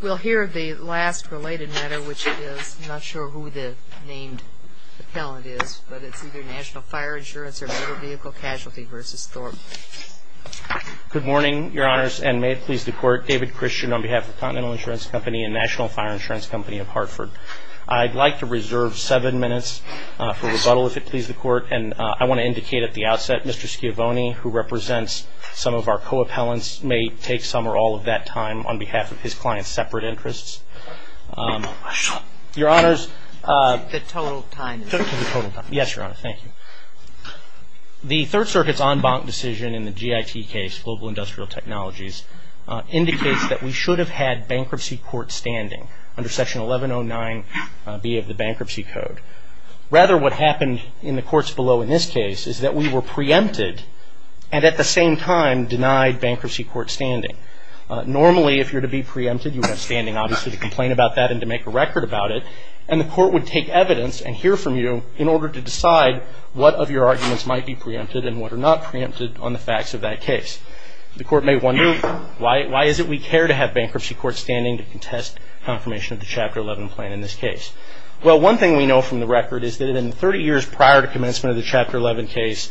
We'll hear the last related matter, which is not sure who the named Appellant is, but it's either National Fire Insurance or Motor Vehicle Casualty versus Thorpe Good morning, your honors and may it please the court David Christian on behalf of Continental Insurance Company and National Fire Insurance Company of Hartford I'd like to reserve seven minutes for rebuttal if it please the court and I want to indicate at the outset Mr. Schiavone who represents some of our co-appellants may take some or all of that time on behalf of his clients separate interests Your honors Yes, your honor, thank you The Third Circuit's en banc decision in the GIT case global industrial technologies Indicates that we should have had bankruptcy court standing under section 1109 B of the bankruptcy code Rather what happened in the courts below in this case is that we were preempted and at the same time denied bankruptcy court standing Normally if you're to be preempted you have standing obviously to complain about that and to make a record about it and the court would Take evidence and hear from you in order to decide What of your arguments might be preempted and what are not preempted on the facts of that case? The court may wonder why why is it we care to have bankruptcy court standing to contest Confirmation of the chapter 11 plan in this case Well, one thing we know from the record is that in 30 years prior to commencement of the chapter 11 case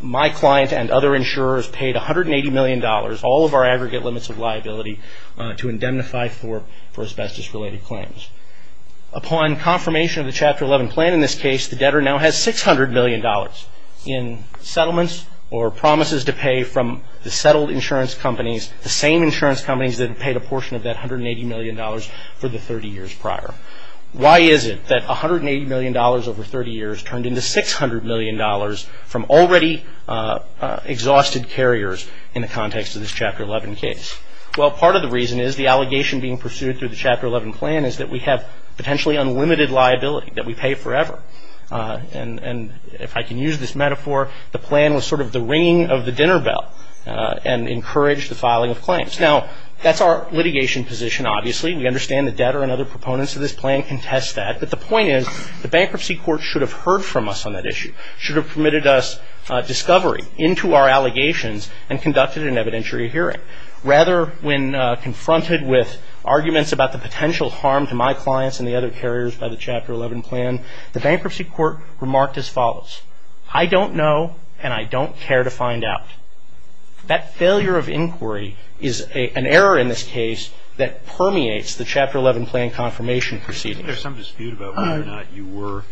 My client and other insurers paid a hundred and eighty million dollars all of our aggregate limits of liability to indemnify for for asbestos related claims upon confirmation of the chapter 11 plan in this case the debtor now has six hundred million dollars in Settlements or promises to pay from the settled insurance companies the same insurance companies that paid a portion of that hundred and eighty million Dollars for the thirty years prior Why is it that a hundred and eighty million dollars over thirty years turned into six hundred million dollars from already? Exhausted carriers in the context of this chapter 11 case Well part of the reason is the allegation being pursued through the chapter 11 plan is that we have potentially unlimited liability that we pay forever And and if I can use this metaphor the plan was sort of the ringing of the dinner bell And encouraged the filing of claims now, that's our litigation position Obviously, we understand the debtor and other proponents of this plan can test that but the point is the bankruptcy court should have heard from us On that issue should have permitted us Discovery into our allegations and conducted an evidentiary hearing rather when Confronted with arguments about the potential harm to my clients and the other carriers by the chapter 11 plan The bankruptcy court remarked as follows. I don't know and I don't care to find out That failure of inquiry is a an error in this case that permeates the chapter 11 plan confirmation proceeding There's some dispute about whether or not you were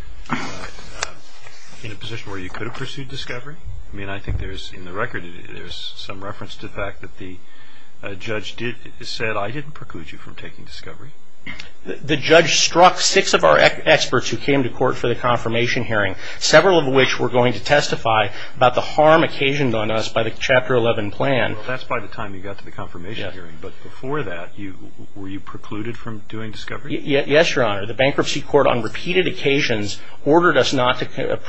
In a position where you could have pursued discovery, I mean, I think there's in the record there's some reference to the fact that the Judge did said I didn't preclude you from taking discovery The judge struck six of our experts who came to court for the confirmation hearing several of which were going to testify About the harm occasioned on us by the chapter 11 plan That's by the time you got to the confirmation hearing but before that you were you precluded from doing discovery yet? Yes, your honor the bankruptcy court on repeated occasions ordered us not to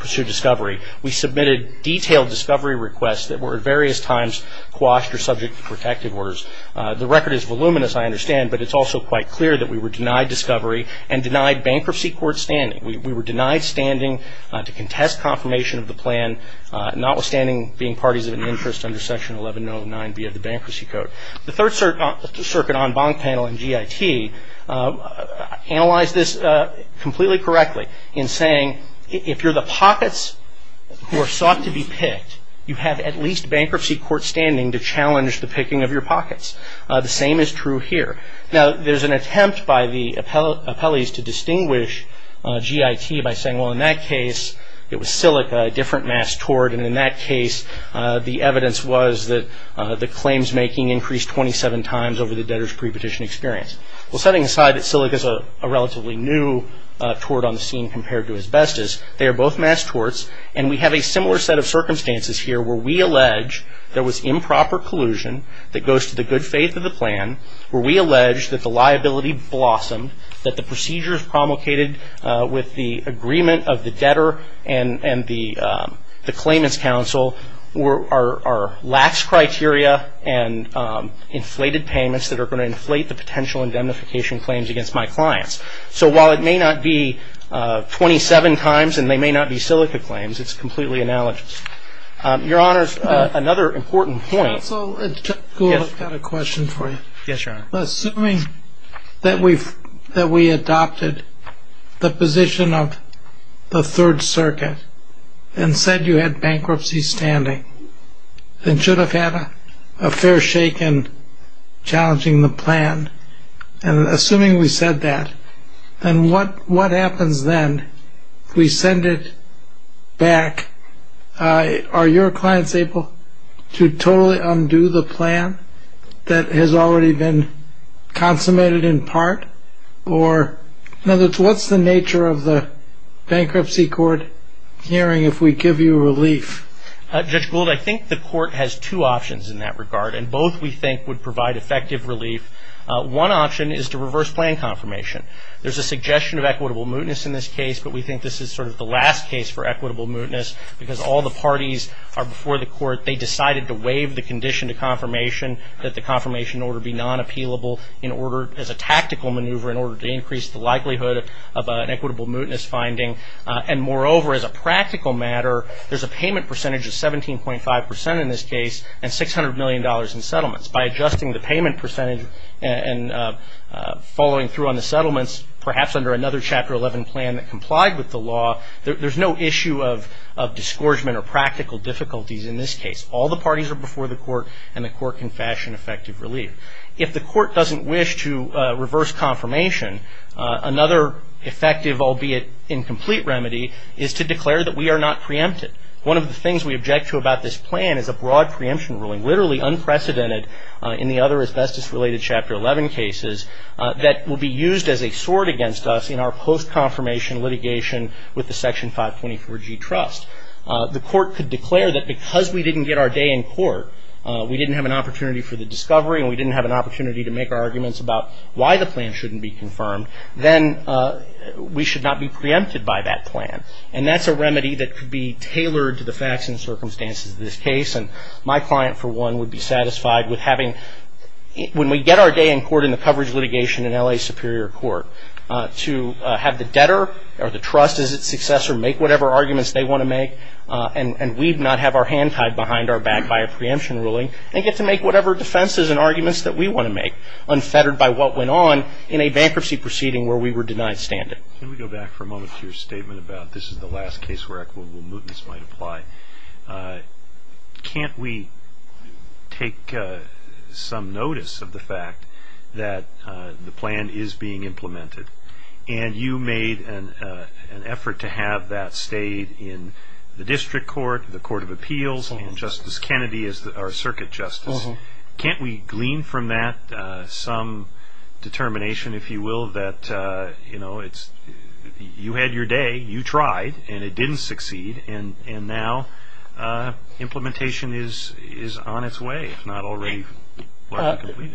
pursue discovery We submitted detailed discovery requests that were at various times quashed or subject to protective orders. The record is voluminous I understand, but it's also quite clear that we were denied discovery and denied bankruptcy court standing We were denied standing to contest confirmation of the plan Notwithstanding being parties of an interest under section 1109 via the bankruptcy code the third circuit on bond panel and GIT Analyzed this Completely correctly in saying if you're the pockets Who are sought to be picked you have at least bankruptcy court standing to challenge the picking of your pockets The same is true here. Now. There's an attempt by the appellate appellees to distinguish GIT by saying well in that case It was silica a different mass toward and in that case The evidence was that the claims making increased 27 times over the debtors pre-petition experience Well setting aside that silica is a relatively new Toward on the scene compared to asbestos They are both mass torts and we have a similar set of circumstances here where we allege There was improper collusion that goes to the good faith of the plan where we allege that the liability blossomed that the procedures promulgated with the agreement of the debtor and and the the claimants counsel were our lax criteria and Inflated payments that are going to inflate the potential indemnification claims against my clients. So while it may not be 27 times and they may not be silica claims. It's completely analogous Your honor's another important point Question for you. Yes, your honor assuming that we've that we adopted the position of the Third Circuit and said you had bankruptcy standing And should have had a fair shake and challenging the plan and Assuming we said that and what what happens then we send it back Are your clients able to totally undo the plan that has already been? consummated in part or In other words, what's the nature of the bankruptcy court hearing if we give you relief? Judge Gould, I think the court has two options in that regard and both we think would provide effective relief One option is to reverse plan confirmation There's a suggestion of equitable mootness in this case But we think this is sort of the last case for equitable mootness because all the parties are before the court They decided to waive the condition to confirmation that the confirmation order be non-appealable In order as a tactical maneuver in order to increase the likelihood of an equitable mootness finding and moreover as a practical matter there's a payment percentage of 17.5 percent in this case and 600 million dollars in settlements by adjusting the payment percentage and Following through on the settlements perhaps under another chapter 11 plan that complied with the law There's no issue of of disgorgement or practical difficulties in this case All the parties are before the court and the court can fashion effective relief if the court doesn't wish to reverse confirmation Another effective albeit incomplete remedy is to declare that we are not preempted One of the things we object to about this plan is a broad preemption ruling literally unprecedented in the other asbestos related chapter 11 cases That will be used as a sword against us in our post-confirmation litigation with the section 524 G trust The court could declare that because we didn't get our day in court We didn't have an opportunity for the discovery and we didn't have an opportunity to make our arguments about why the plan shouldn't be confirmed then We should not be preempted by that plan And that's a remedy that could be tailored to the facts and circumstances of this case and my client for one would be satisfied with having When we get our day in court in the coverage litigation in LA Superior Court To have the debtor or the trust as its successor make whatever arguments they want to make And and we'd not have our hand tied behind our back by a preemption ruling they get to make whatever Defenses and arguments that we want to make Unfettered by what went on in a bankruptcy proceeding where we were denied standard Can we go back for a moment to your statement about this is the last case where equitable movements might apply? Can't we take some notice of the fact that The plan is being implemented and you made an an effort to have that stayed in The district court the Court of Appeals and Justice Kennedy is that our circuit justice can't we glean from that some? determination if you will that you know, it's You had your day you tried and it didn't succeed and and now Implementation is is on its way. It's not already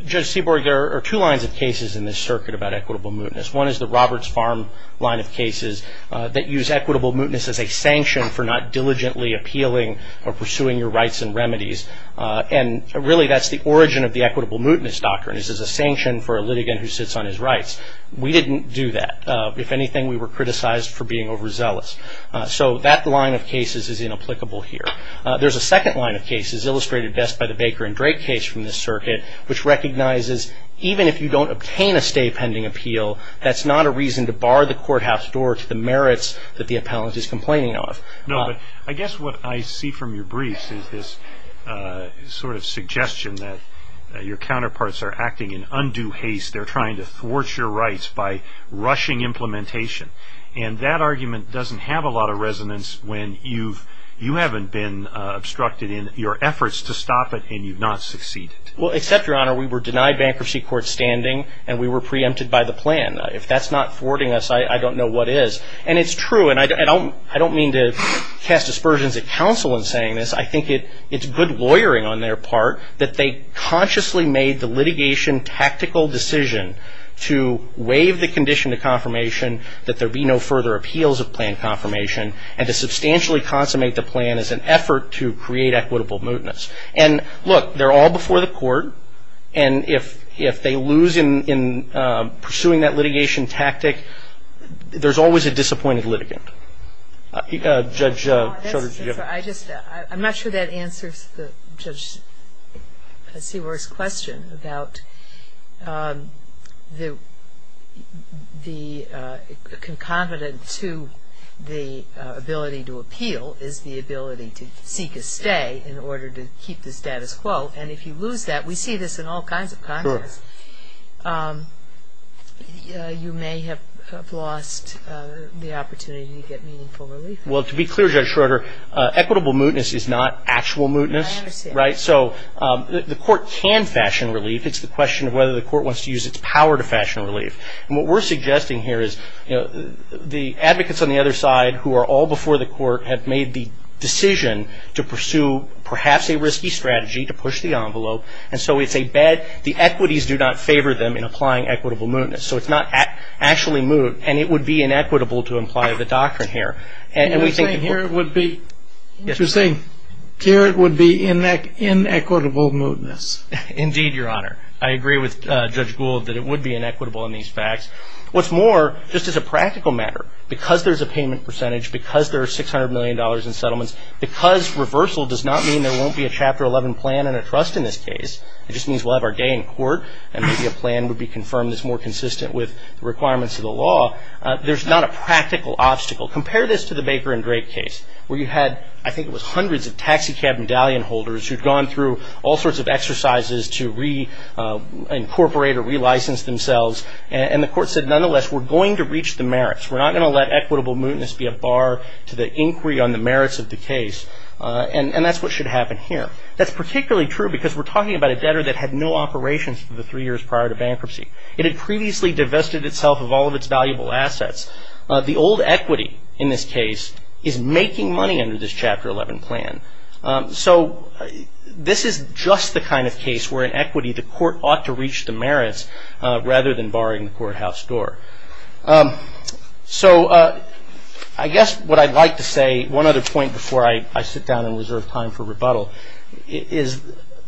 Judge Seaborg there are two lines of cases in this circuit about equitable mootness One is the Roberts farm line of cases that use equitable mootness as a sanction for not diligently Appealing or pursuing your rights and remedies and really that's the origin of the equitable mootness doctrine This is a sanction for a litigant who sits on his rights. We didn't do that If anything, we were criticized for being overzealous. So that line of cases is inapplicable here There's a second line of cases illustrated best by the Baker and Drake case from this circuit Which recognizes even if you don't obtain a stay pending appeal That's not a reason to bar the courthouse door to the merits that the appellant is complaining of No, I guess what I see from your briefs is this Sort of suggestion that your counterparts are acting in undue haste. They're trying to thwart your rights by rushing Implementation and that argument doesn't have a lot of resonance when you've you haven't been Obstructed in your efforts to stop it and you've not succeeded Well except your honor We were denied bankruptcy court standing and we were preempted by the plan if that's not thwarting us I don't know what is and it's true and I don't I don't mean to cast aspersions at counsel in saying this I think it it's good lawyering on their part that they consciously made the litigation tactical decision to waive the condition to confirmation that there be no further appeals of plan confirmation and to Create equitable mootness and look they're all before the court and if if they lose in pursuing that litigation tactic There's always a disappointed litigant Judge I'm not sure that answers the judge Seaworth's question about The the Concomitant to the Ability to appeal is the ability to seek a stay in order to keep the status quo And if you lose that we see this in all kinds of Congress You may have lost Well to be clear judge Schroeder Equitable mootness is not actual mootness, right? So the court can fashion relief It's the question of whether the court wants to use its power to fashion relief and what we're suggesting here is the advocates on the other side who are all before the court have made the Decision to pursue perhaps a risky strategy to push the envelope And so it's a bad the equities do not favor them in applying equitable mootness So it's not actually moot and it would be inequitable to imply the doctrine here and we think here it would be Interesting here. It would be in neck inequitable mootness Indeed your honor. I agree with judge Gould that it would be inequitable in these facts What's more just as a practical matter because there's a payment percentage because there are six hundred million dollars in settlements Because reversal does not mean there won't be a chapter 11 plan and a trust in this case It just means we'll have our day in court and maybe a plan would be confirmed as more consistent with the requirements of the law There's not a practical obstacle compare this to the Baker and Drake case where you had I think it was hundreds of taxicab medallion holders who've gone through all sorts of exercises to re Incorporate or relicense themselves and the court said nonetheless, we're going to reach the merits We're not going to let equitable mootness be a bar to the inquiry on the merits of the case And and that's what should happen here That's particularly true because we're talking about a debtor that had no operations for the three years prior to bankruptcy It had previously divested itself of all of its valuable assets The old equity in this case is making money under this chapter 11 plan so This is just the kind of case where in equity the court ought to reach the merits rather than barring the courthouse door So I guess what I'd like to say one other point before I sit down and reserve time for rebuttal Is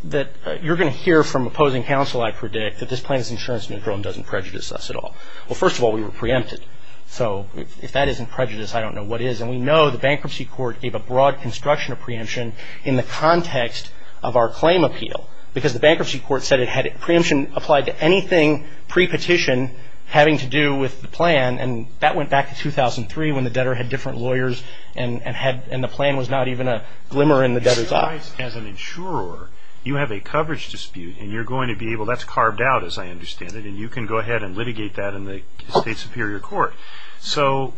that you're going to hear from opposing counsel? I predict that this plan is insurance neutral and doesn't prejudice us at all. Well, first of all, we were preempted So if that isn't prejudice, I don't know what is and we know the bankruptcy court gave a broad construction of preemption in the context Of our claim appeal because the bankruptcy court said it had a preemption applied to anything pre-petition having to do with the plan and that went back to 2003 when the debtor had different lawyers and And had and the plan was not even a glimmer in the debtor's eyes as an insurer You have a coverage dispute and you're going to be able that's carved out as I understand it And you can go ahead and litigate that in the state superior court. So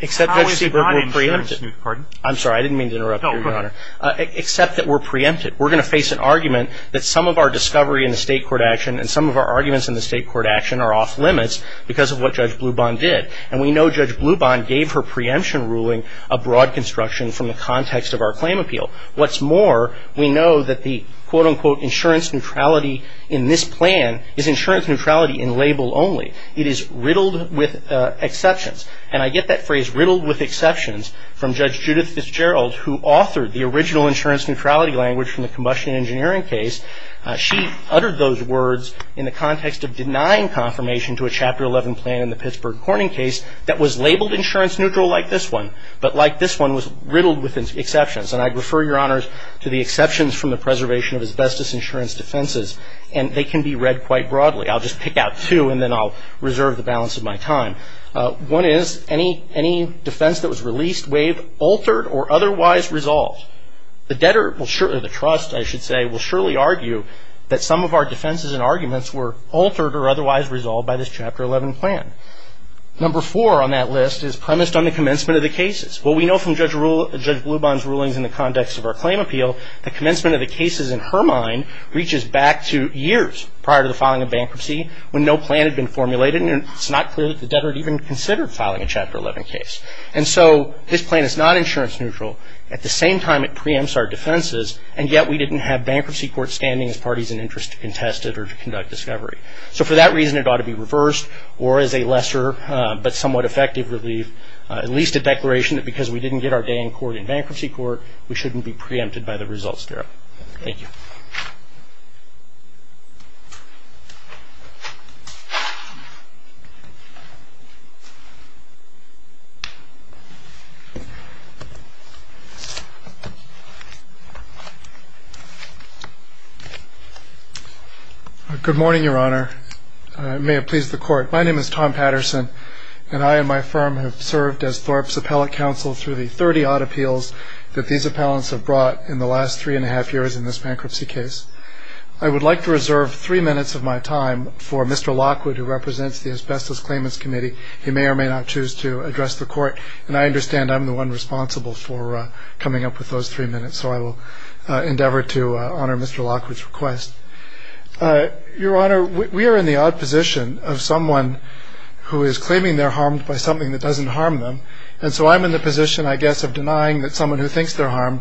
Except that we're preempted. I'm sorry. I didn't mean to interrupt you, your honor, except that we're preempted We're going to face an argument that some of our discovery in the state court action and some of our arguments in the state court Action are off-limits because of what Judge Bluban did and we know Judge Bluban gave her preemption ruling a broad construction from the context Of our claim appeal. What's more? We know that the quote-unquote insurance neutrality in this plan is insurance neutrality in label only it is riddled with Exceptions and I get that phrase riddled with exceptions from Judge Judith Fitzgerald who authored the original insurance neutrality language from the combustion engineering case She uttered those words in the context of denying Confirmation to a chapter 11 plan in the Pittsburgh Corning case that was labeled insurance neutral like this one but like this one was riddled with Exceptions and I'd refer your honors to the exceptions from the preservation of asbestos insurance defenses and they can be read quite broadly I'll just pick out two and then I'll reserve the balance of my time One is any any defense that was released waived altered or otherwise resolved the debtor will surely the trust I should say will surely argue that some of our defenses and arguments were altered or otherwise resolved by this chapter 11 plan Number four on that list is premised on the commencement of the cases Well, we know from Judge Bluban's rulings in the context of our claim appeal the commencement of the cases in her mind Reaches back to years prior to the filing of bankruptcy when no plan had been formulated And it's not clear that the debtor had even considered filing a chapter 11 case And so this plan is not insurance neutral at the same time It preempts our defenses and yet we didn't have bankruptcy court standing as parties in interest to contest it or to conduct discovery So for that reason it ought to be reversed or as a lesser But somewhat effective relief at least a declaration that because we didn't get our day in court in bankruptcy court We shouldn't be preempted by the results there. Thank you I Good morning, Your Honor May it please the court My name is Tom Patterson And I and my firm have served as Thorpe's appellate counsel through the 30-odd appeals That these appellants have brought in the last three and a half years in this bankruptcy case I would like to reserve three minutes of my time for mr. Lockwood who represents the asbestos claimants committee He may or may not choose to address the court and I understand I'm the one responsible for coming up with those three minutes. So I will endeavor to honor. Mr. Lockwood's request Your honor we are in the odd position of someone Who is claiming they're harmed by something that doesn't harm them And so I'm in the position I guess of denying that someone who thinks they're harmed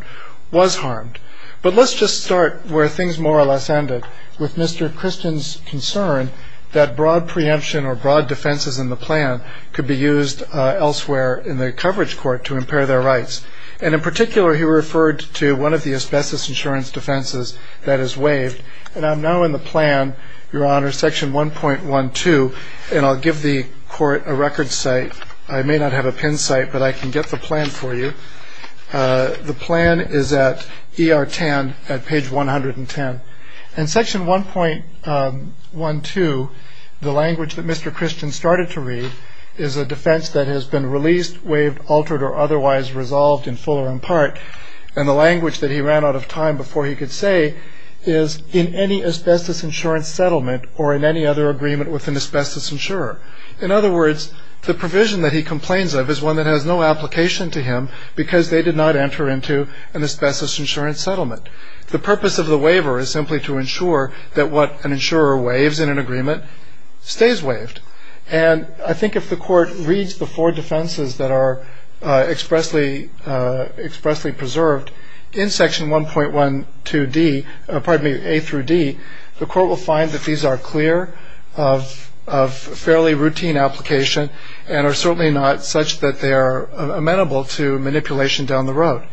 was harmed But let's just start where things more or less ended with mr. Christian's concern that broad preemption or broad defenses in the plan could be used Elsewhere in the coverage court to impair their rights and in particular he referred to one of the asbestos insurance Defenses that is waived and I'm now in the plan your honor section 1.1 2 and I'll give the court a record site I may not have a pin site, but I can get the plan for you The plan is at er tan at page 110 and section 1.1 2 the language that mr. Christian started to read is a defense that has been released waived altered or otherwise resolved in full or in part and the language that he ran out of time before he could say is In any asbestos insurance settlement or in any other agreement with an asbestos insurer in other words The provision that he complains of is one that has no application to him because they did not enter into an asbestos insurance Settlement the purpose of the waiver is simply to ensure that what an insurer waves in an agreement Stays waived and I think if the court reads the four defenses that are expressly Expressly preserved in section 1.1 2d. Pardon me a through D. The court will find that these are clear of And are certainly not such that they are amenable to manipulation down the road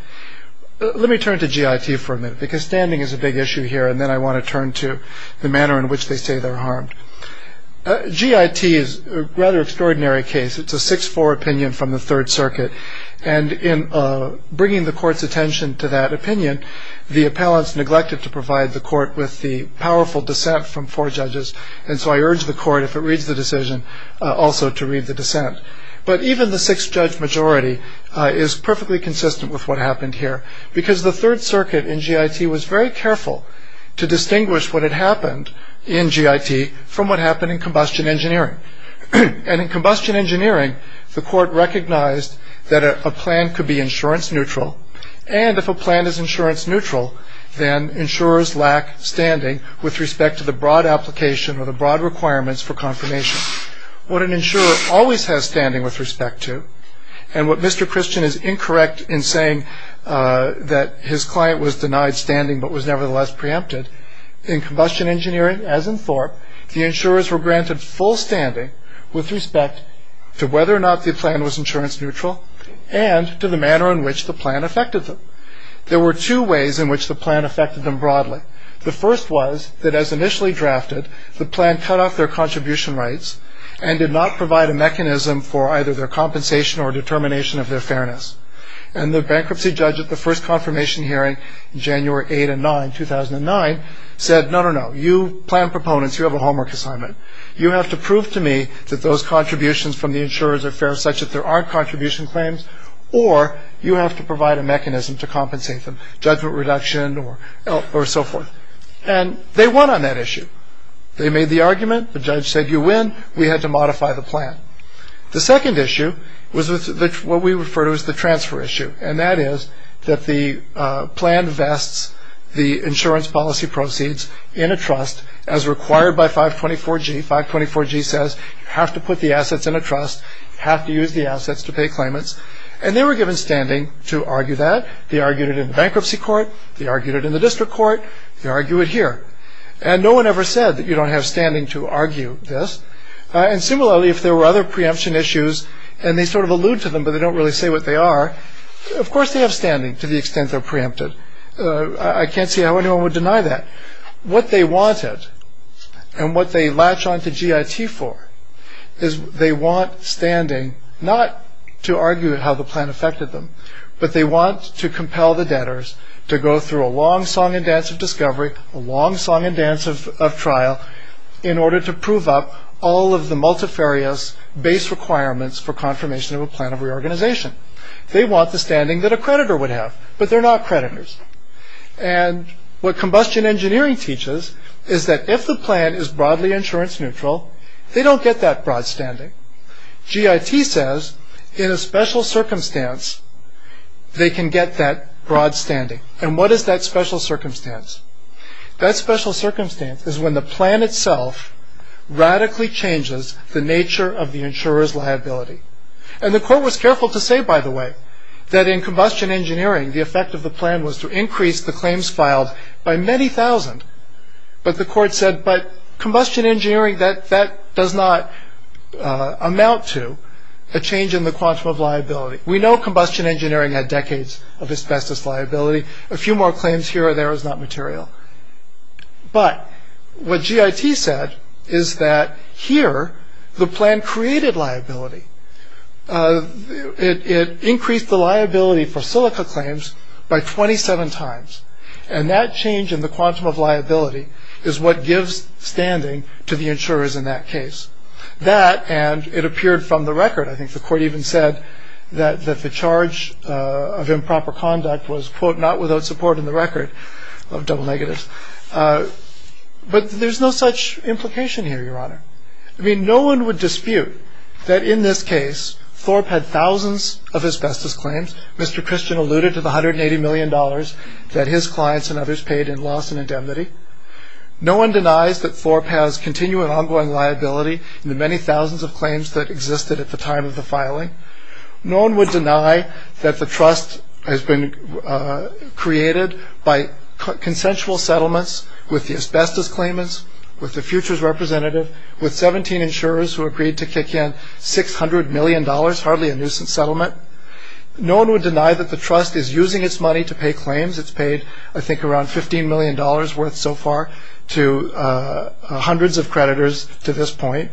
Let me turn to GIT for a minute because standing is a big issue here And then I want to turn to the manner in which they say they're harmed GIT is a rather extraordinary case. It's a 6-4 opinion from the Third Circuit and in Bringing the court's attention to that opinion the appellants neglected to provide the court with the powerful dissent from four judges And so I urge the court if it reads the decision also to read the dissent But even the sixth judge majority is perfectly consistent with what happened here because the Third Circuit in GIT was very careful To distinguish what had happened in GIT from what happened in combustion engineering and in combustion engineering the court recognized that a plan could be insurance neutral and If a plan is insurance neutral then insurers lack standing with respect to the broad application or the broad requirements for confirmation What an insurer always has standing with respect to and what mr. Christian is incorrect in saying That his client was denied standing, but was nevertheless preempted in combustion engineering as in Thorpe the insurers were granted full standing with respect to whether or not the plan was insurance neutral and To the manner in which the plan affected them. There were two ways in which the plan affected them broadly The first was that as initially drafted the plan cut off their contribution rights and did not provide a mechanism for either their Compensation or determination of their fairness and the bankruptcy judge at the first confirmation hearing in January 8 and 9 2009 Said no, no, no you plan proponents. You have a homework assignment you have to prove to me that those contributions from the insurers are fair such that there aren't contribution claims or You have to provide a mechanism to compensate them judgment reduction or or so forth and they won on that issue They made the argument the judge said you win. We had to modify the plan the second issue was with what we refer to as the transfer issue and that is that the plan vests the insurance policy proceeds in a trust as Required by 524 G 524 G says you have to put the assets in a trust Have to use the assets to pay claimants and they were given standing to argue that they argued it in bankruptcy court They argued it in the district court They argue it here and no one ever said that you don't have standing to argue this And similarly if there were other preemption issues and they sort of allude to them, but they don't really say what they are Of course, they have standing to the extent. They're preempted. I can't see how anyone would deny that what they wanted And what they latch on to GIT for is They want standing not to argue it how the plan affected them But they want to compel the debtors to go through a long song and dance of discovery a long song and dance of trial In order to prove up all of the multifarious base requirements for confirmation of a plan of reorganization they want the standing that a creditor would have but they're not creditors and What combustion engineering teaches is that if the plan is broadly insurance neutral, they don't get that broad standing GIT says in a special circumstance They can get that broad standing and what is that special circumstance? That special circumstance is when the plan itself Radically changes the nature of the insurers liability and the court was careful to say by the way That in combustion engineering the effect of the plan was to increase the claims filed by many thousand But the court said but combustion engineering that that does not Amount to a change in the quantum of liability We know combustion engineering had decades of asbestos liability a few more claims here or there is not material But what GIT said is that here the plan created liability It increased the liability for silica claims by 27 times and that change in the quantum of liability Is what gives standing to the insurers in that case that and it appeared from the record? I think the court even said that that the charge of improper conduct was quote not without support in the record of double negatives But there's no such implication here your honor I mean no one would dispute that in this case Thorpe had thousands of asbestos claims. Mr. Christian alluded to the hundred and eighty million dollars that his clients and others paid in loss and indemnity No one denies that Thorpe has continuing ongoing liability in the many thousands of claims that existed at the time of the filing No one would deny that the trust has been created by Consensual settlements with the asbestos claimants with the futures representative with 17 insurers who agreed to kick in 600 million dollars hardly a nuisance settlement No one would deny that the trust is using its money to pay claims. It's paid. I think around 15 million dollars worth so far to hundreds of creditors to this point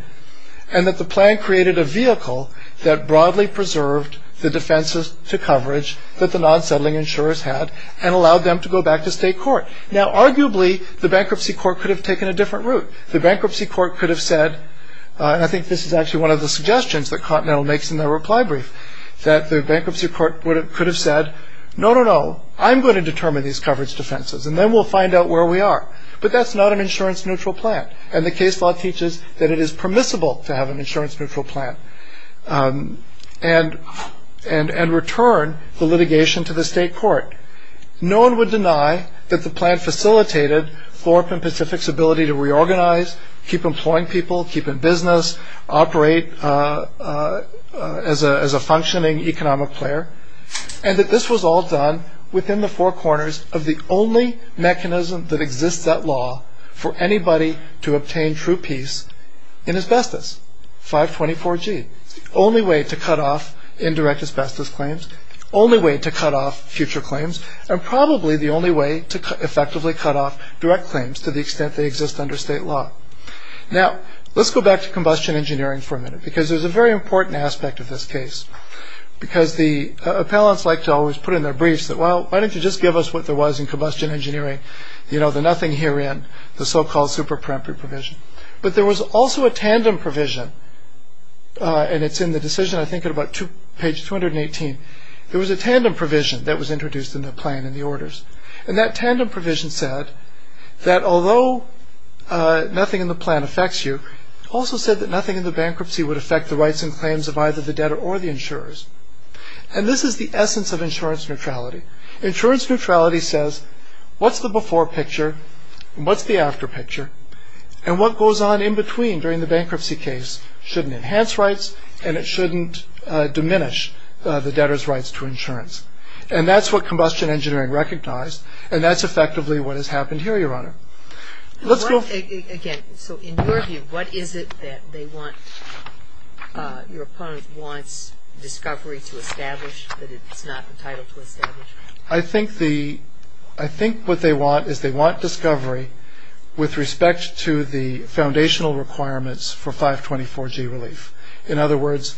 and That the plan created a vehicle that broadly preserved the defenses to coverage that the non-settling insurers had and allowed them to go back to state court now arguably the Bankruptcy court could have taken a different route the bankruptcy court could have said And I think this is actually one of the suggestions that continental makes in their reply brief That the bankruptcy court would have could have said no no no I'm going to determine these coverage defenses And then we'll find out where we are But that's not an insurance neutral plan and the case law teaches that it is permissible to have an insurance neutral plan And And and return the litigation to the state court No one would deny that the plan facilitated Floripan Pacific's ability to reorganize keep employing people keep in business operate As a functioning economic player and that this was all done within the four corners of the only Mechanism that exists that law for anybody to obtain true peace in asbestos 524 G only way to cut off indirect asbestos claims only way to cut off future claims And probably the only way to effectively cut off direct claims to the extent they exist under state law Now let's go back to combustion engineering for a minute because there's a very important aspect of this case Because the appellants like to always put in their briefs that well Why don't you just give us what there was in combustion engineering you know the nothing here in the so-called super premptory provision? But there was also a tandem provision And it's in the decision. I think at about to page 218 There was a tandem provision that was introduced in the plan in the orders and that tandem provision said that although Nothing in the plan affects you also said that nothing in the bankruptcy would affect the rights and claims of either the debtor or the insurers and This is the essence of insurance neutrality insurance neutrality says what's the before picture? What's the after picture and what goes on in between during the bankruptcy case shouldn't enhance rights, and it shouldn't Diminish the debtor's rights to insurance, and that's what combustion engineering recognized, and that's effectively what has happened here your honor Let's go again. So in your view. What is it that they want? your opponent wants Discovery to establish that it's not the title to establish I think the I think what they want is they want discovery with respect to the foundational requirements for 524 G relief in other words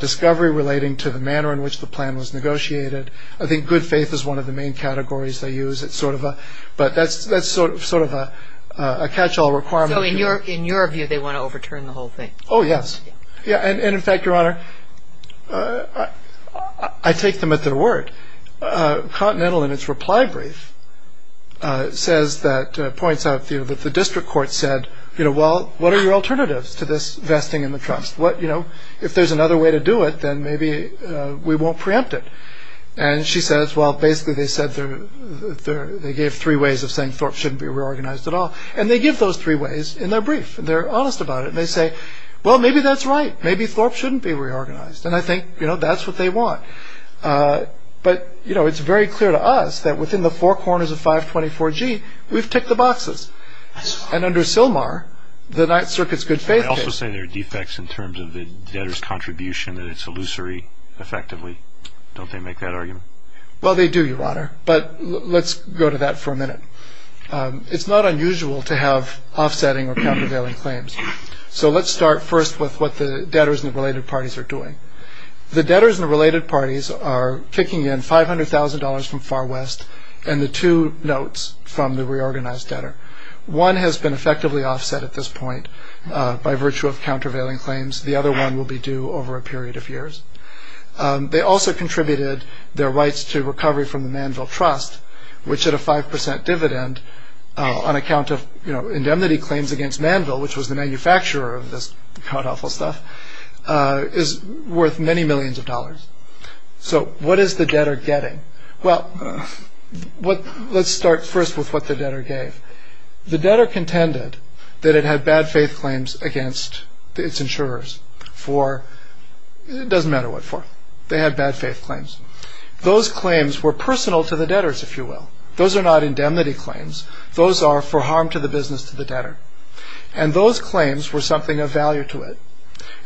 Discovery relating to the manner in which the plan was negotiated. I think good faith is one of the main categories They use it sort of a but that's that's sort of sort of a catch-all requirement in your in your view They want to overturn the whole thing. Oh, yes. Yeah, and in fact your honor I Take them at their word Continental in its reply brief Says that points out view that the district court said you know well What are your alternatives to this vesting in the trust what you know if there's another way to do it then maybe? We won't preempt it and she says well basically they said they're They gave three ways of saying Thorpe shouldn't be reorganized at all and they give those three ways in their brief And they're honest about it, and they say well, maybe that's right Maybe Thorpe shouldn't be reorganized, and I think you know that's what they want But you know it's very clear to us that within the four corners of 524 G We've ticked the boxes and under Sylmar the Ninth Circuit's good faith I also say there are defects in terms of the debtors contribution that it's illusory Effectively don't they make that argument well they do your honor, but let's go to that for a minute It's not unusual to have offsetting or countervailing claims So let's start first with what the debtors and related parties are doing The debtors and related parties are kicking in $500,000 from Far West and the two notes from the reorganized debtor one has been effectively offset at this point By virtue of countervailing claims the other one will be due over a period of years They also contributed their rights to recovery from the manville trust which at a 5% dividend On account of you know indemnity claims against manville which was the manufacturer of this cut off all stuff Is worth many millions of dollars, so what is the debtor getting well? What let's start first with what the debtor gave the debtor contended that it had bad faith claims against its insurers for It doesn't matter what for they had bad faith claims those claims were personal to the debtors if you will those are not indemnity claims those are for harm to the business to the debtor and Those claims were something of value to it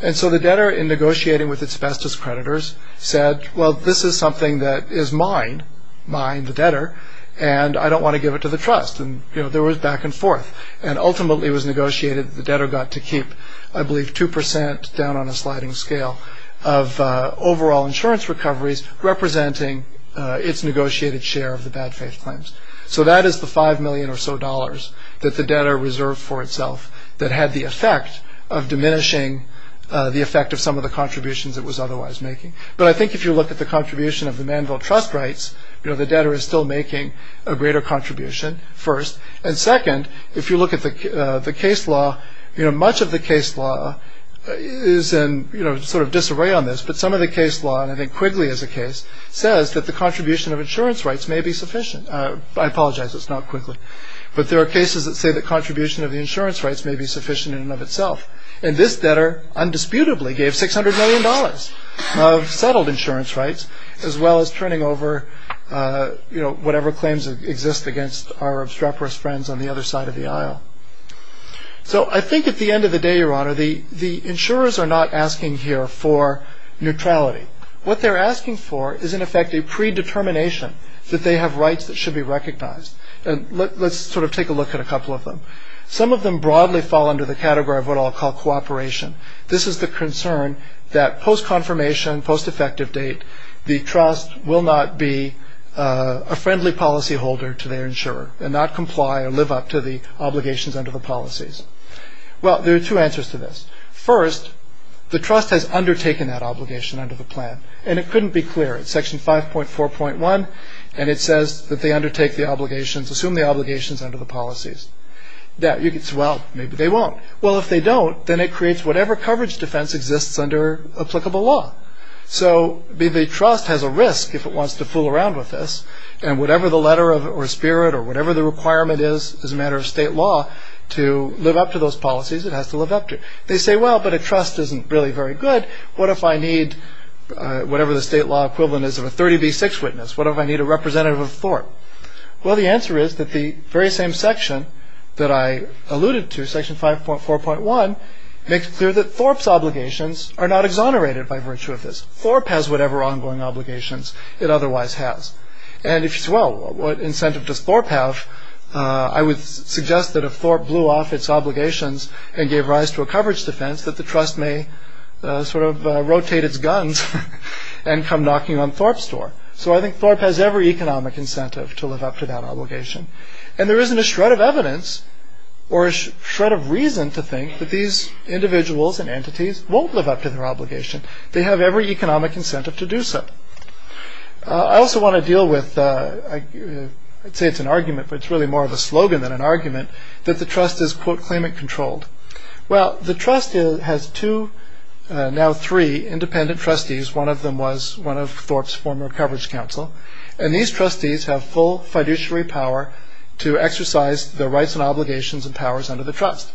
and so the debtor in negotiating with its bestest creditors said well This is something that is mine mine the debtor and I don't want to give it to the trust and you know there was back and forth and ultimately was negotiated the debtor got to keep I believe 2% down on a sliding scale of overall insurance recoveries Representing its negotiated share of the bad faith claims So that is the 5 million or so dollars that the debtor reserved for itself that had the effect of diminishing The effect of some of the contributions it was otherwise making but I think if you look at the contribution of the manville trust rights You know the debtor is still making a greater contribution First and second if you look at the the case law you know much of the case law Is and you know sort of disarray on this but some of the case law and I think Quigley as a case Says that the contribution of insurance rights may be sufficient I apologize It's not quickly But there are cases that say the contribution of the insurance rights may be sufficient in and of itself and this debtor Undisputably gave 600 million dollars of settled insurance rights as well as turning over You know whatever claims exist against our obstreperous friends on the other side of the aisle So I think at the end of the day your honor the the insurers are not asking here for Neutrality what they're asking for is in effect a pre-determination That they have rights that should be recognized and let's sort of take a look at a couple of them Some of them broadly fall under the category of what I'll call cooperation This is the concern that post confirmation post effective date the trust will not be A friendly policyholder to their insurer and not comply or live up to the obligations under the policies Well, there are two answers to this first The trust has undertaken that obligation under the plan and it couldn't be clear at section five point four point one And it says that they undertake the obligations assume the obligations under the policies that you could swell. Maybe they won't Well, if they don't then it creates whatever coverage defense exists under applicable law so be the trust has a risk if it wants to fool around with this and Whatever the letter of or spirit or whatever the requirement is as a matter of state law to live up to those policies It has to live up to they say well, but a trust isn't really very good. What if I need? Whatever the state law equivalent is of a 30b6 witness. What if I need a representative of Thorpe? Well, the answer is that the very same section that I alluded to section five point four point one Makes clear that Thorpe's obligations are not exonerated by virtue of this Thorpe has whatever ongoing obligations It otherwise has and if she's well, what incentive does Thorpe have? I would suggest that if Thorpe blew off its obligations and gave rise to a coverage defense that the trust may Sort of rotate its guns and come knocking on Thorpe's door so I think Thorpe has every economic incentive to live up to that obligation and there isn't a shred of evidence or Shred of reason to think that these individuals and entities won't live up to their obligation. They have every economic incentive to do so I also want to deal with I Say it's an argument, but it's really more of a slogan than an argument that the trust is quote claimant controlled Well, the trust has two Now three independent trustees One of them was one of Thorpe's former coverage counsel and these trustees have full fiduciary power To exercise the rights and obligations and powers under the trust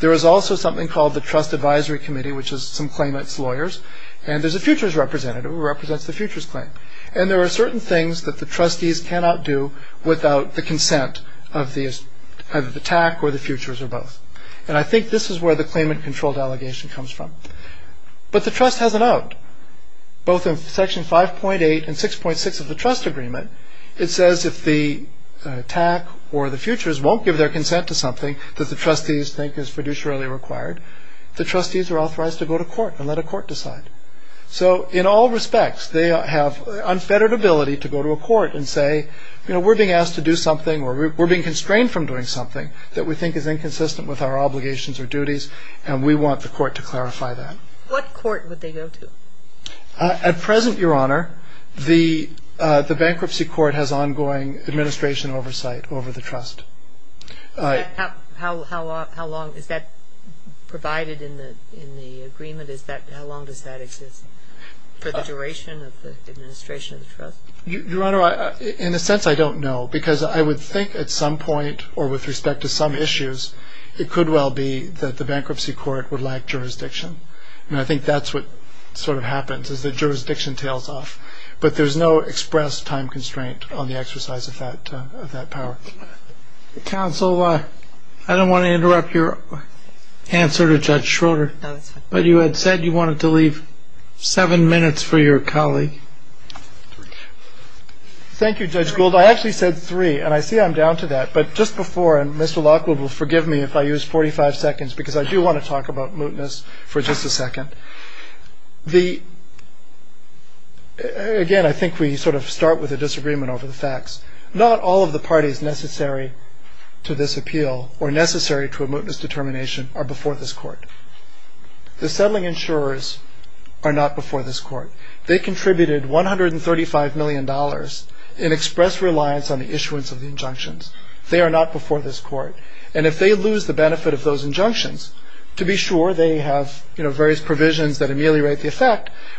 There is also something called the trust advisory committee Which is some claimants lawyers and there's a futures representative who represents the futures claim and there are certain things that the trustees cannot do Without the consent of the attack or the futures or both and I think this is where the claimant controlled allegation comes from But the trust has an out both in section 5.8 and 6.6 of the trust agreement it says if the Attack or the futures won't give their consent to something that the trustees think is fiduciary required The trustees are authorized to go to court and let a court decide So in all respects, they have unfettered ability to go to a court and say, you know We're being asked to do something or we're being constrained from doing something that we think is inconsistent with our obligations or duties And we want the court to clarify that what court would they go to? At present your honor. The the bankruptcy court has ongoing administration oversight over the trust All right, how long is that Provided in the in the agreement. Is that how long does that exist for the duration of the administration of the trust? In a sense, I don't know because I would think at some point or with respect to some issues It could well be that the bankruptcy court would like jurisdiction And I think that's what sort of happens is the jurisdiction tails off But there's no express time constraint on the exercise of that of that power Council I don't want to interrupt your Answer to judge Schroeder, but you had said you wanted to leave seven minutes for your colleague Thank You judge Gould I actually said three and I see I'm down to that but just before and mr Lockwood will forgive me if I use 45 seconds because I do want to talk about mootness for just a second the Again I think we sort of start with a disagreement over the facts not all of the parties necessary To this appeal or necessary to a mootness determination are before this court The settling insurers are not before this court. They contributed 135 million dollars in express reliance on the issuance of the injunctions They are not before this court And if they lose the benefit of those injunctions to be sure they have, you know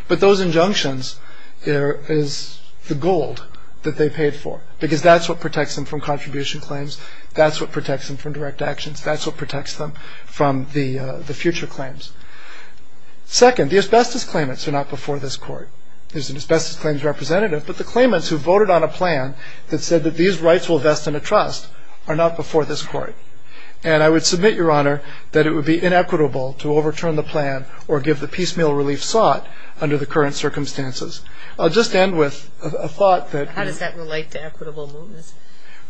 But those injunctions there is the gold that they paid for because that's what protects them from contribution claims That's what protects them from direct actions. That's what protects them from the the future claims Second the asbestos claimants are not before this court There's an asbestos claims representative but the claimants who voted on a plan that said that these rights will vest in a trust are not before this court and I would submit your honor that it would be inequitable to overturn the plan or give the piecemeal relief sought Under the current circumstances. I'll just end with a thought that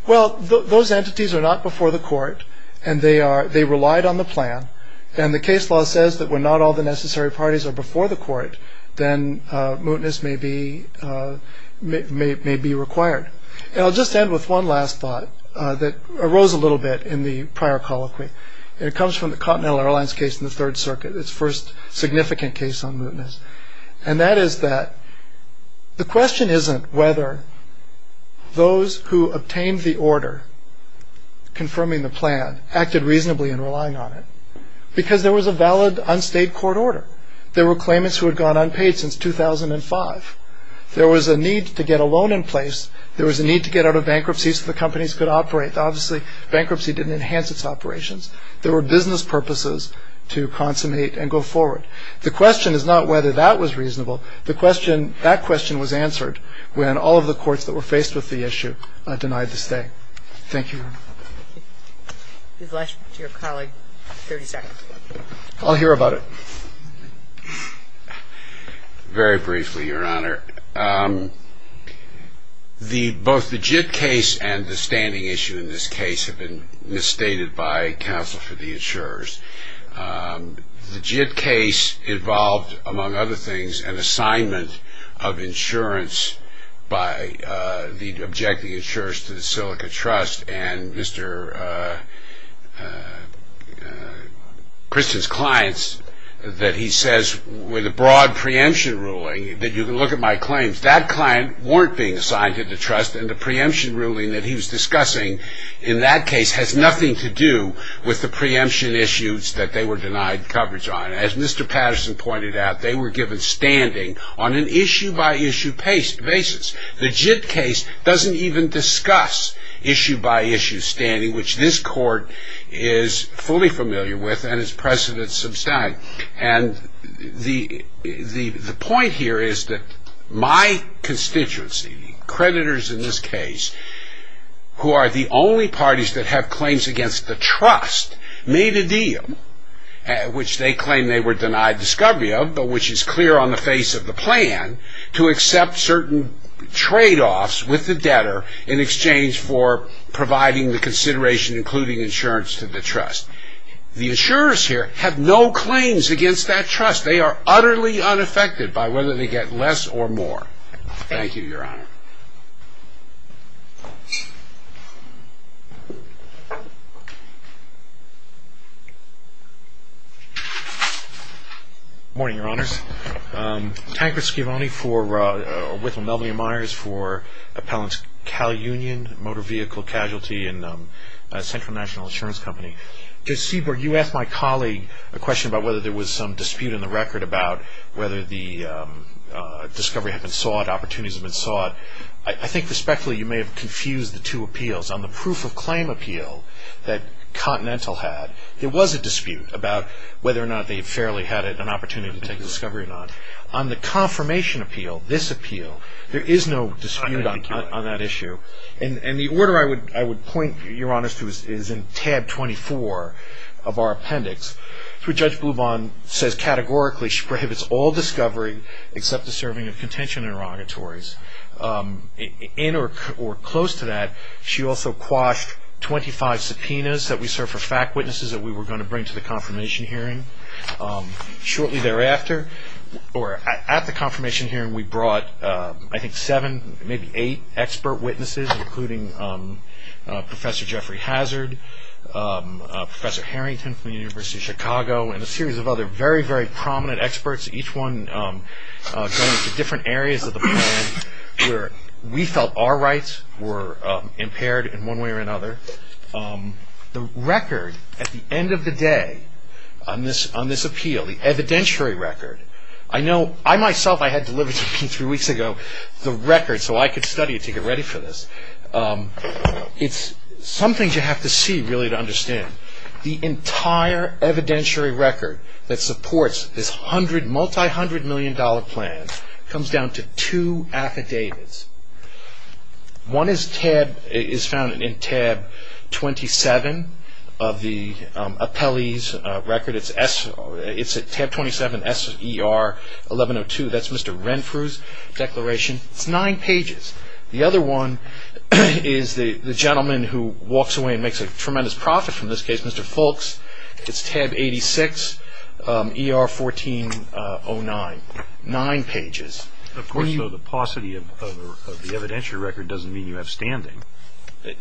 Well, those entities are not before the court and they are they relied on the plan And the case law says that we're not all the necessary parties are before the court then mootness may be May be required and I'll just end with one last thought that arose a little bit in the prior colloquy It comes from the Continental Airlines case in the Third Circuit its first Significant case on mootness and that is that the question isn't whether Those who obtained the order Confirming the plan acted reasonably in relying on it because there was a valid unstayed court order There were claimants who had gone unpaid since 2005 There was a need to get a loan in place There was a need to get out of bankruptcy so the companies could operate obviously bankruptcy didn't enhance its operations There were business purposes to consummate and go forward The question is not whether that was reasonable the question that question was answered When all of the courts that were faced with the issue denied the stay. Thank you I'll hear about it Very briefly your honor The Both the JIT case and the standing issue in this case have been misstated by counsel for the insurers the JIT case involved among other things an assignment of insurance by the objecting insurers to the silica trust and mr. Kristen's clients That he says with a broad preemption ruling that you can look at my claims that client Weren't being assigned to the trust and the preemption ruling that he was discussing in that case has nothing to do with the preemption Issues that they were denied coverage on as mr. Patterson pointed out they were given standing on an issue by issue paste basis the JIT case doesn't even discuss Issue by issue standing which this court is fully familiar with and as presidents abstain and the the the point here is that my constituency creditors in this case Who are the only parties that have claims against the trust made a deal? Which they claim they were denied discovery of but which is clear on the face of the plan to accept certain Trade-offs with the debtor in exchange for providing the consideration including insurance to the trust The insurers here have no claims against that trust. They are utterly unaffected by whether they get less or more Thank you, Your Honor Morning your honors Tanker skivony for with Melvin Meyers for appellants Cal Union motor vehicle casualty and Central National Insurance Company to see where you asked my colleague a question about whether there was some dispute in the record about whether the Discovery had been sought opportunities have been sought I think respectfully you may have confused the two appeals on the proof of claim appeal that Continental had there was a dispute about whether or not they fairly had it an opportunity to take a discovery or not on the Confirmation appeal this appeal there is no dispute on that issue and and the order I would I would point your honors to is in tab 24 of our appendix through judge blue bond says Categorically she prohibits all discovery except the serving of contention and erogatories In or close to that she also quashed 25 subpoenas that we serve for fact witnesses that we were going to bring to the confirmation hearing Shortly thereafter or at the confirmation hearing we brought I think seven maybe eight expert witnesses including Professor Jeffrey hazard Professor Harrington from the University of Chicago and a series of other very very prominent experts each one Different areas of the plan where we felt our rights were impaired in one way or another The record at the end of the day on this on this appeal the evidentiary record I know I myself I had delivered two three weeks ago the record so I could study it to get ready for this It's some things you have to see really to understand the entire Evidentiary record that supports this hundred multi hundred million dollar plan comes down to two affidavits One is tab is found in tab 27 of the Appellees record it's s it's a tab 27 s er 1102 that's mr. Renfrews Declaration it's nine pages the other one is the the gentleman who walks away and makes a tremendous profit from this case mr. Foulkes it's tab 86 er 1409 nine pages according to the paucity of Evidentiary record doesn't mean you have standing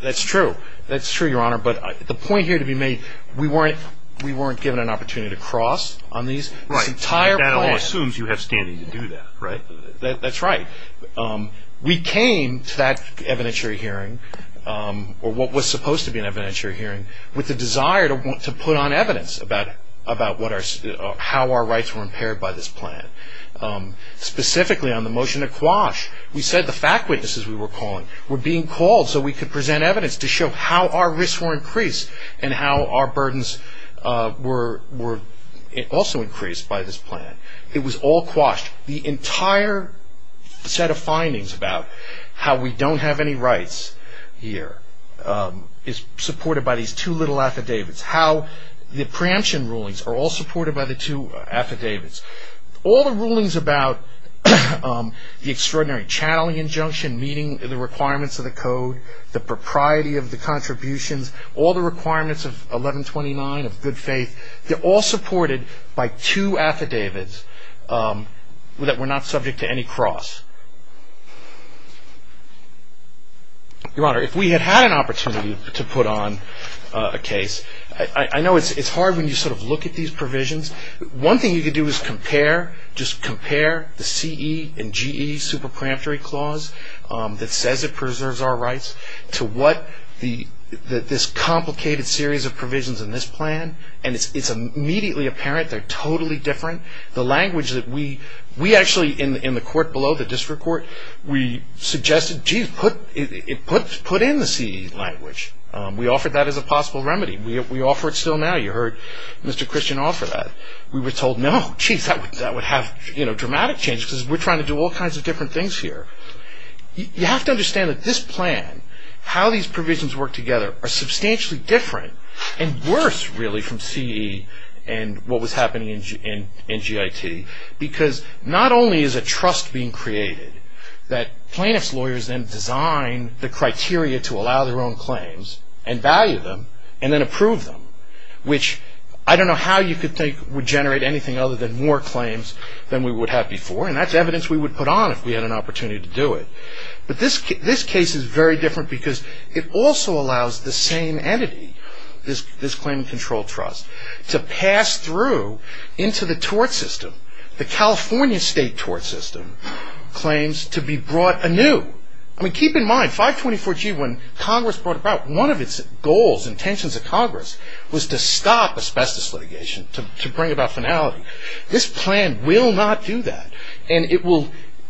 That's true. That's true your honor, but the point here to be made We weren't we weren't given an opportunity to cross on these right entire assumes you have standing to do that right that's right We came to that evidentiary hearing Or what was supposed to be an evidentiary hearing with the desire to want to put on evidence about about what our How our rights were impaired by this plan? Specifically on the motion to quash We said the fact witnesses we were calling were being called so we could present evidence to show how our risks were increased and how our burdens Were were it also increased by this plan. It was all quashed the entire Set of findings about how we don't have any rights here Is supported by these two little affidavits how the preemption rulings are all supported by the two affidavits all the rulings about? the extraordinary channeling injunction meaning the requirements of the code the propriety of the Contributions all the requirements of 1129 of good faith. They're all supported by two affidavits That we're not subject to any cross Your honor if we had had an opportunity to put on a case I know it's it's hard when you sort of look at these provisions one thing you could do is compare Just compare the CE and GE super preemptory clause that says it preserves our rights to what the This complicated series of provisions in this plan, and it's immediately apparent They're totally different the language that we we actually in the in the court below the district court We suggested gee put it put put in the CE language. We offered that as a possible remedy We offer it still now you heard Mr.. Christian offer that we were told no geez that would have you know dramatic change Because we're trying to do all kinds of different things here You have to understand that this plan How these provisions work together are substantially different and worse really from CE and What was happening in in in GIT because not only is a trust being created that plaintiffs lawyers then? Design the criteria to allow their own claims and value them and then approve them Which I don't know how you could think would generate anything other than more claims Than we would have before and that's evidence We would put on if we had an opportunity to do it But this case this case is very different because it also allows the same entity this this claim control trust To pass through into the tort system the California state tort system Claims to be brought anew I mean keep in mind 524 G when Congress brought about one of its goals intentions of Congress was to stop asbestos litigation to bring about finality this plan will not do that and It will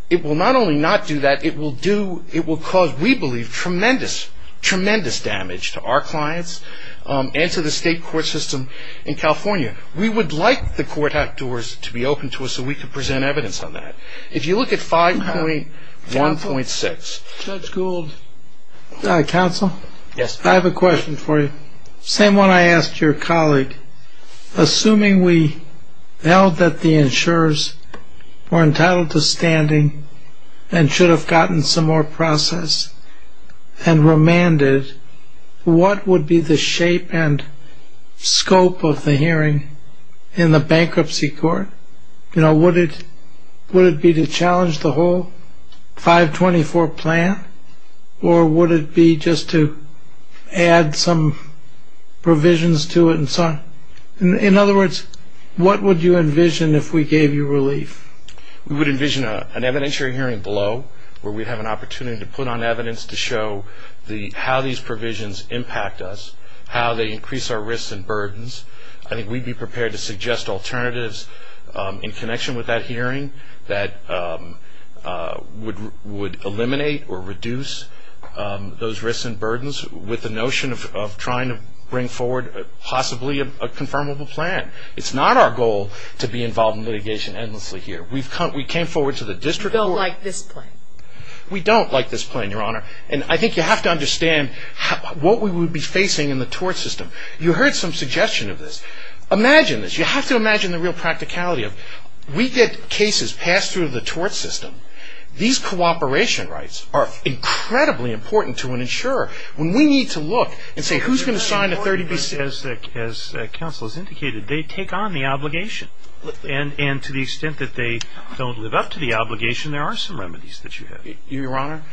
it will not only not do that it will do it will cause we believe tremendous tremendous damage to our clients And to the state court system in California We would like the court outdoors to be open to us so we could present evidence on that if you look at five point one point six Counsel yes, I have a question for you same one. I asked your colleague assuming we held that the insurers Were entitled to standing and should have gotten some more process and Remanded What would be the shape and? Scope of the hearing in the bankruptcy court. You know what it would it be to challenge the whole 524 plan or would it be just to add some Provisions to it and son in other words What would you envision if we gave you relief? We would envision a an evidentiary hearing below where we'd have an opportunity to put on evidence to show The how these provisions impact us how they increase our risks and burdens. I think we'd be prepared to suggest alternatives in connection with that hearing that Would would eliminate or reduce Those risks and burdens with the notion of trying to bring forward possibly a confirmable plan It's not our goal to be involved in litigation endlessly here. We've come we came forward to the district like this We don't like this plan your honor, and I think you have to understand What we would be facing in the tort system you heard some suggestion of this Imagine this you have to imagine the real practicality of we get cases passed through the tort system these cooperation rights are Incredibly important to an insurer when we need to look and say who's going to sign a 30b Says that as counsel is indicated they take on the obligation And and to the extent that they don't live up to the obligation there are some remedies that you have your honor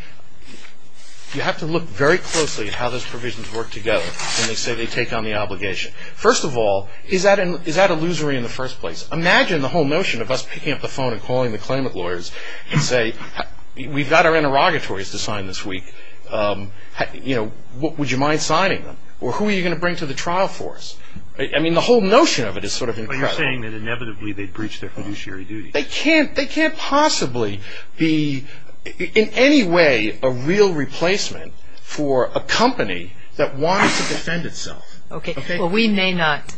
You have to look very closely at how those provisions work together And they say they take on the obligation first of all is that an is that illusory in the first place? Imagine the whole notion of us picking up the phone and calling the claimant lawyers and say We've got our interrogatories to sign this week You know what would you mind signing them or who are you gonna bring to the trial for us? I mean the whole notion of it is sort of you're saying that inevitably they'd breach their fiduciary duty They can't they can't possibly be In any way a real replacement for a company that wants to defend itself. Okay. Well we may not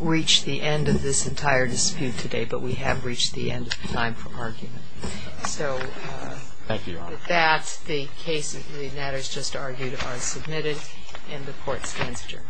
Reach the end of this entire dispute today, but we have reached the end of time for argument so Thank you. That's the case. It really matters just argued are submitted and the court stands adjourned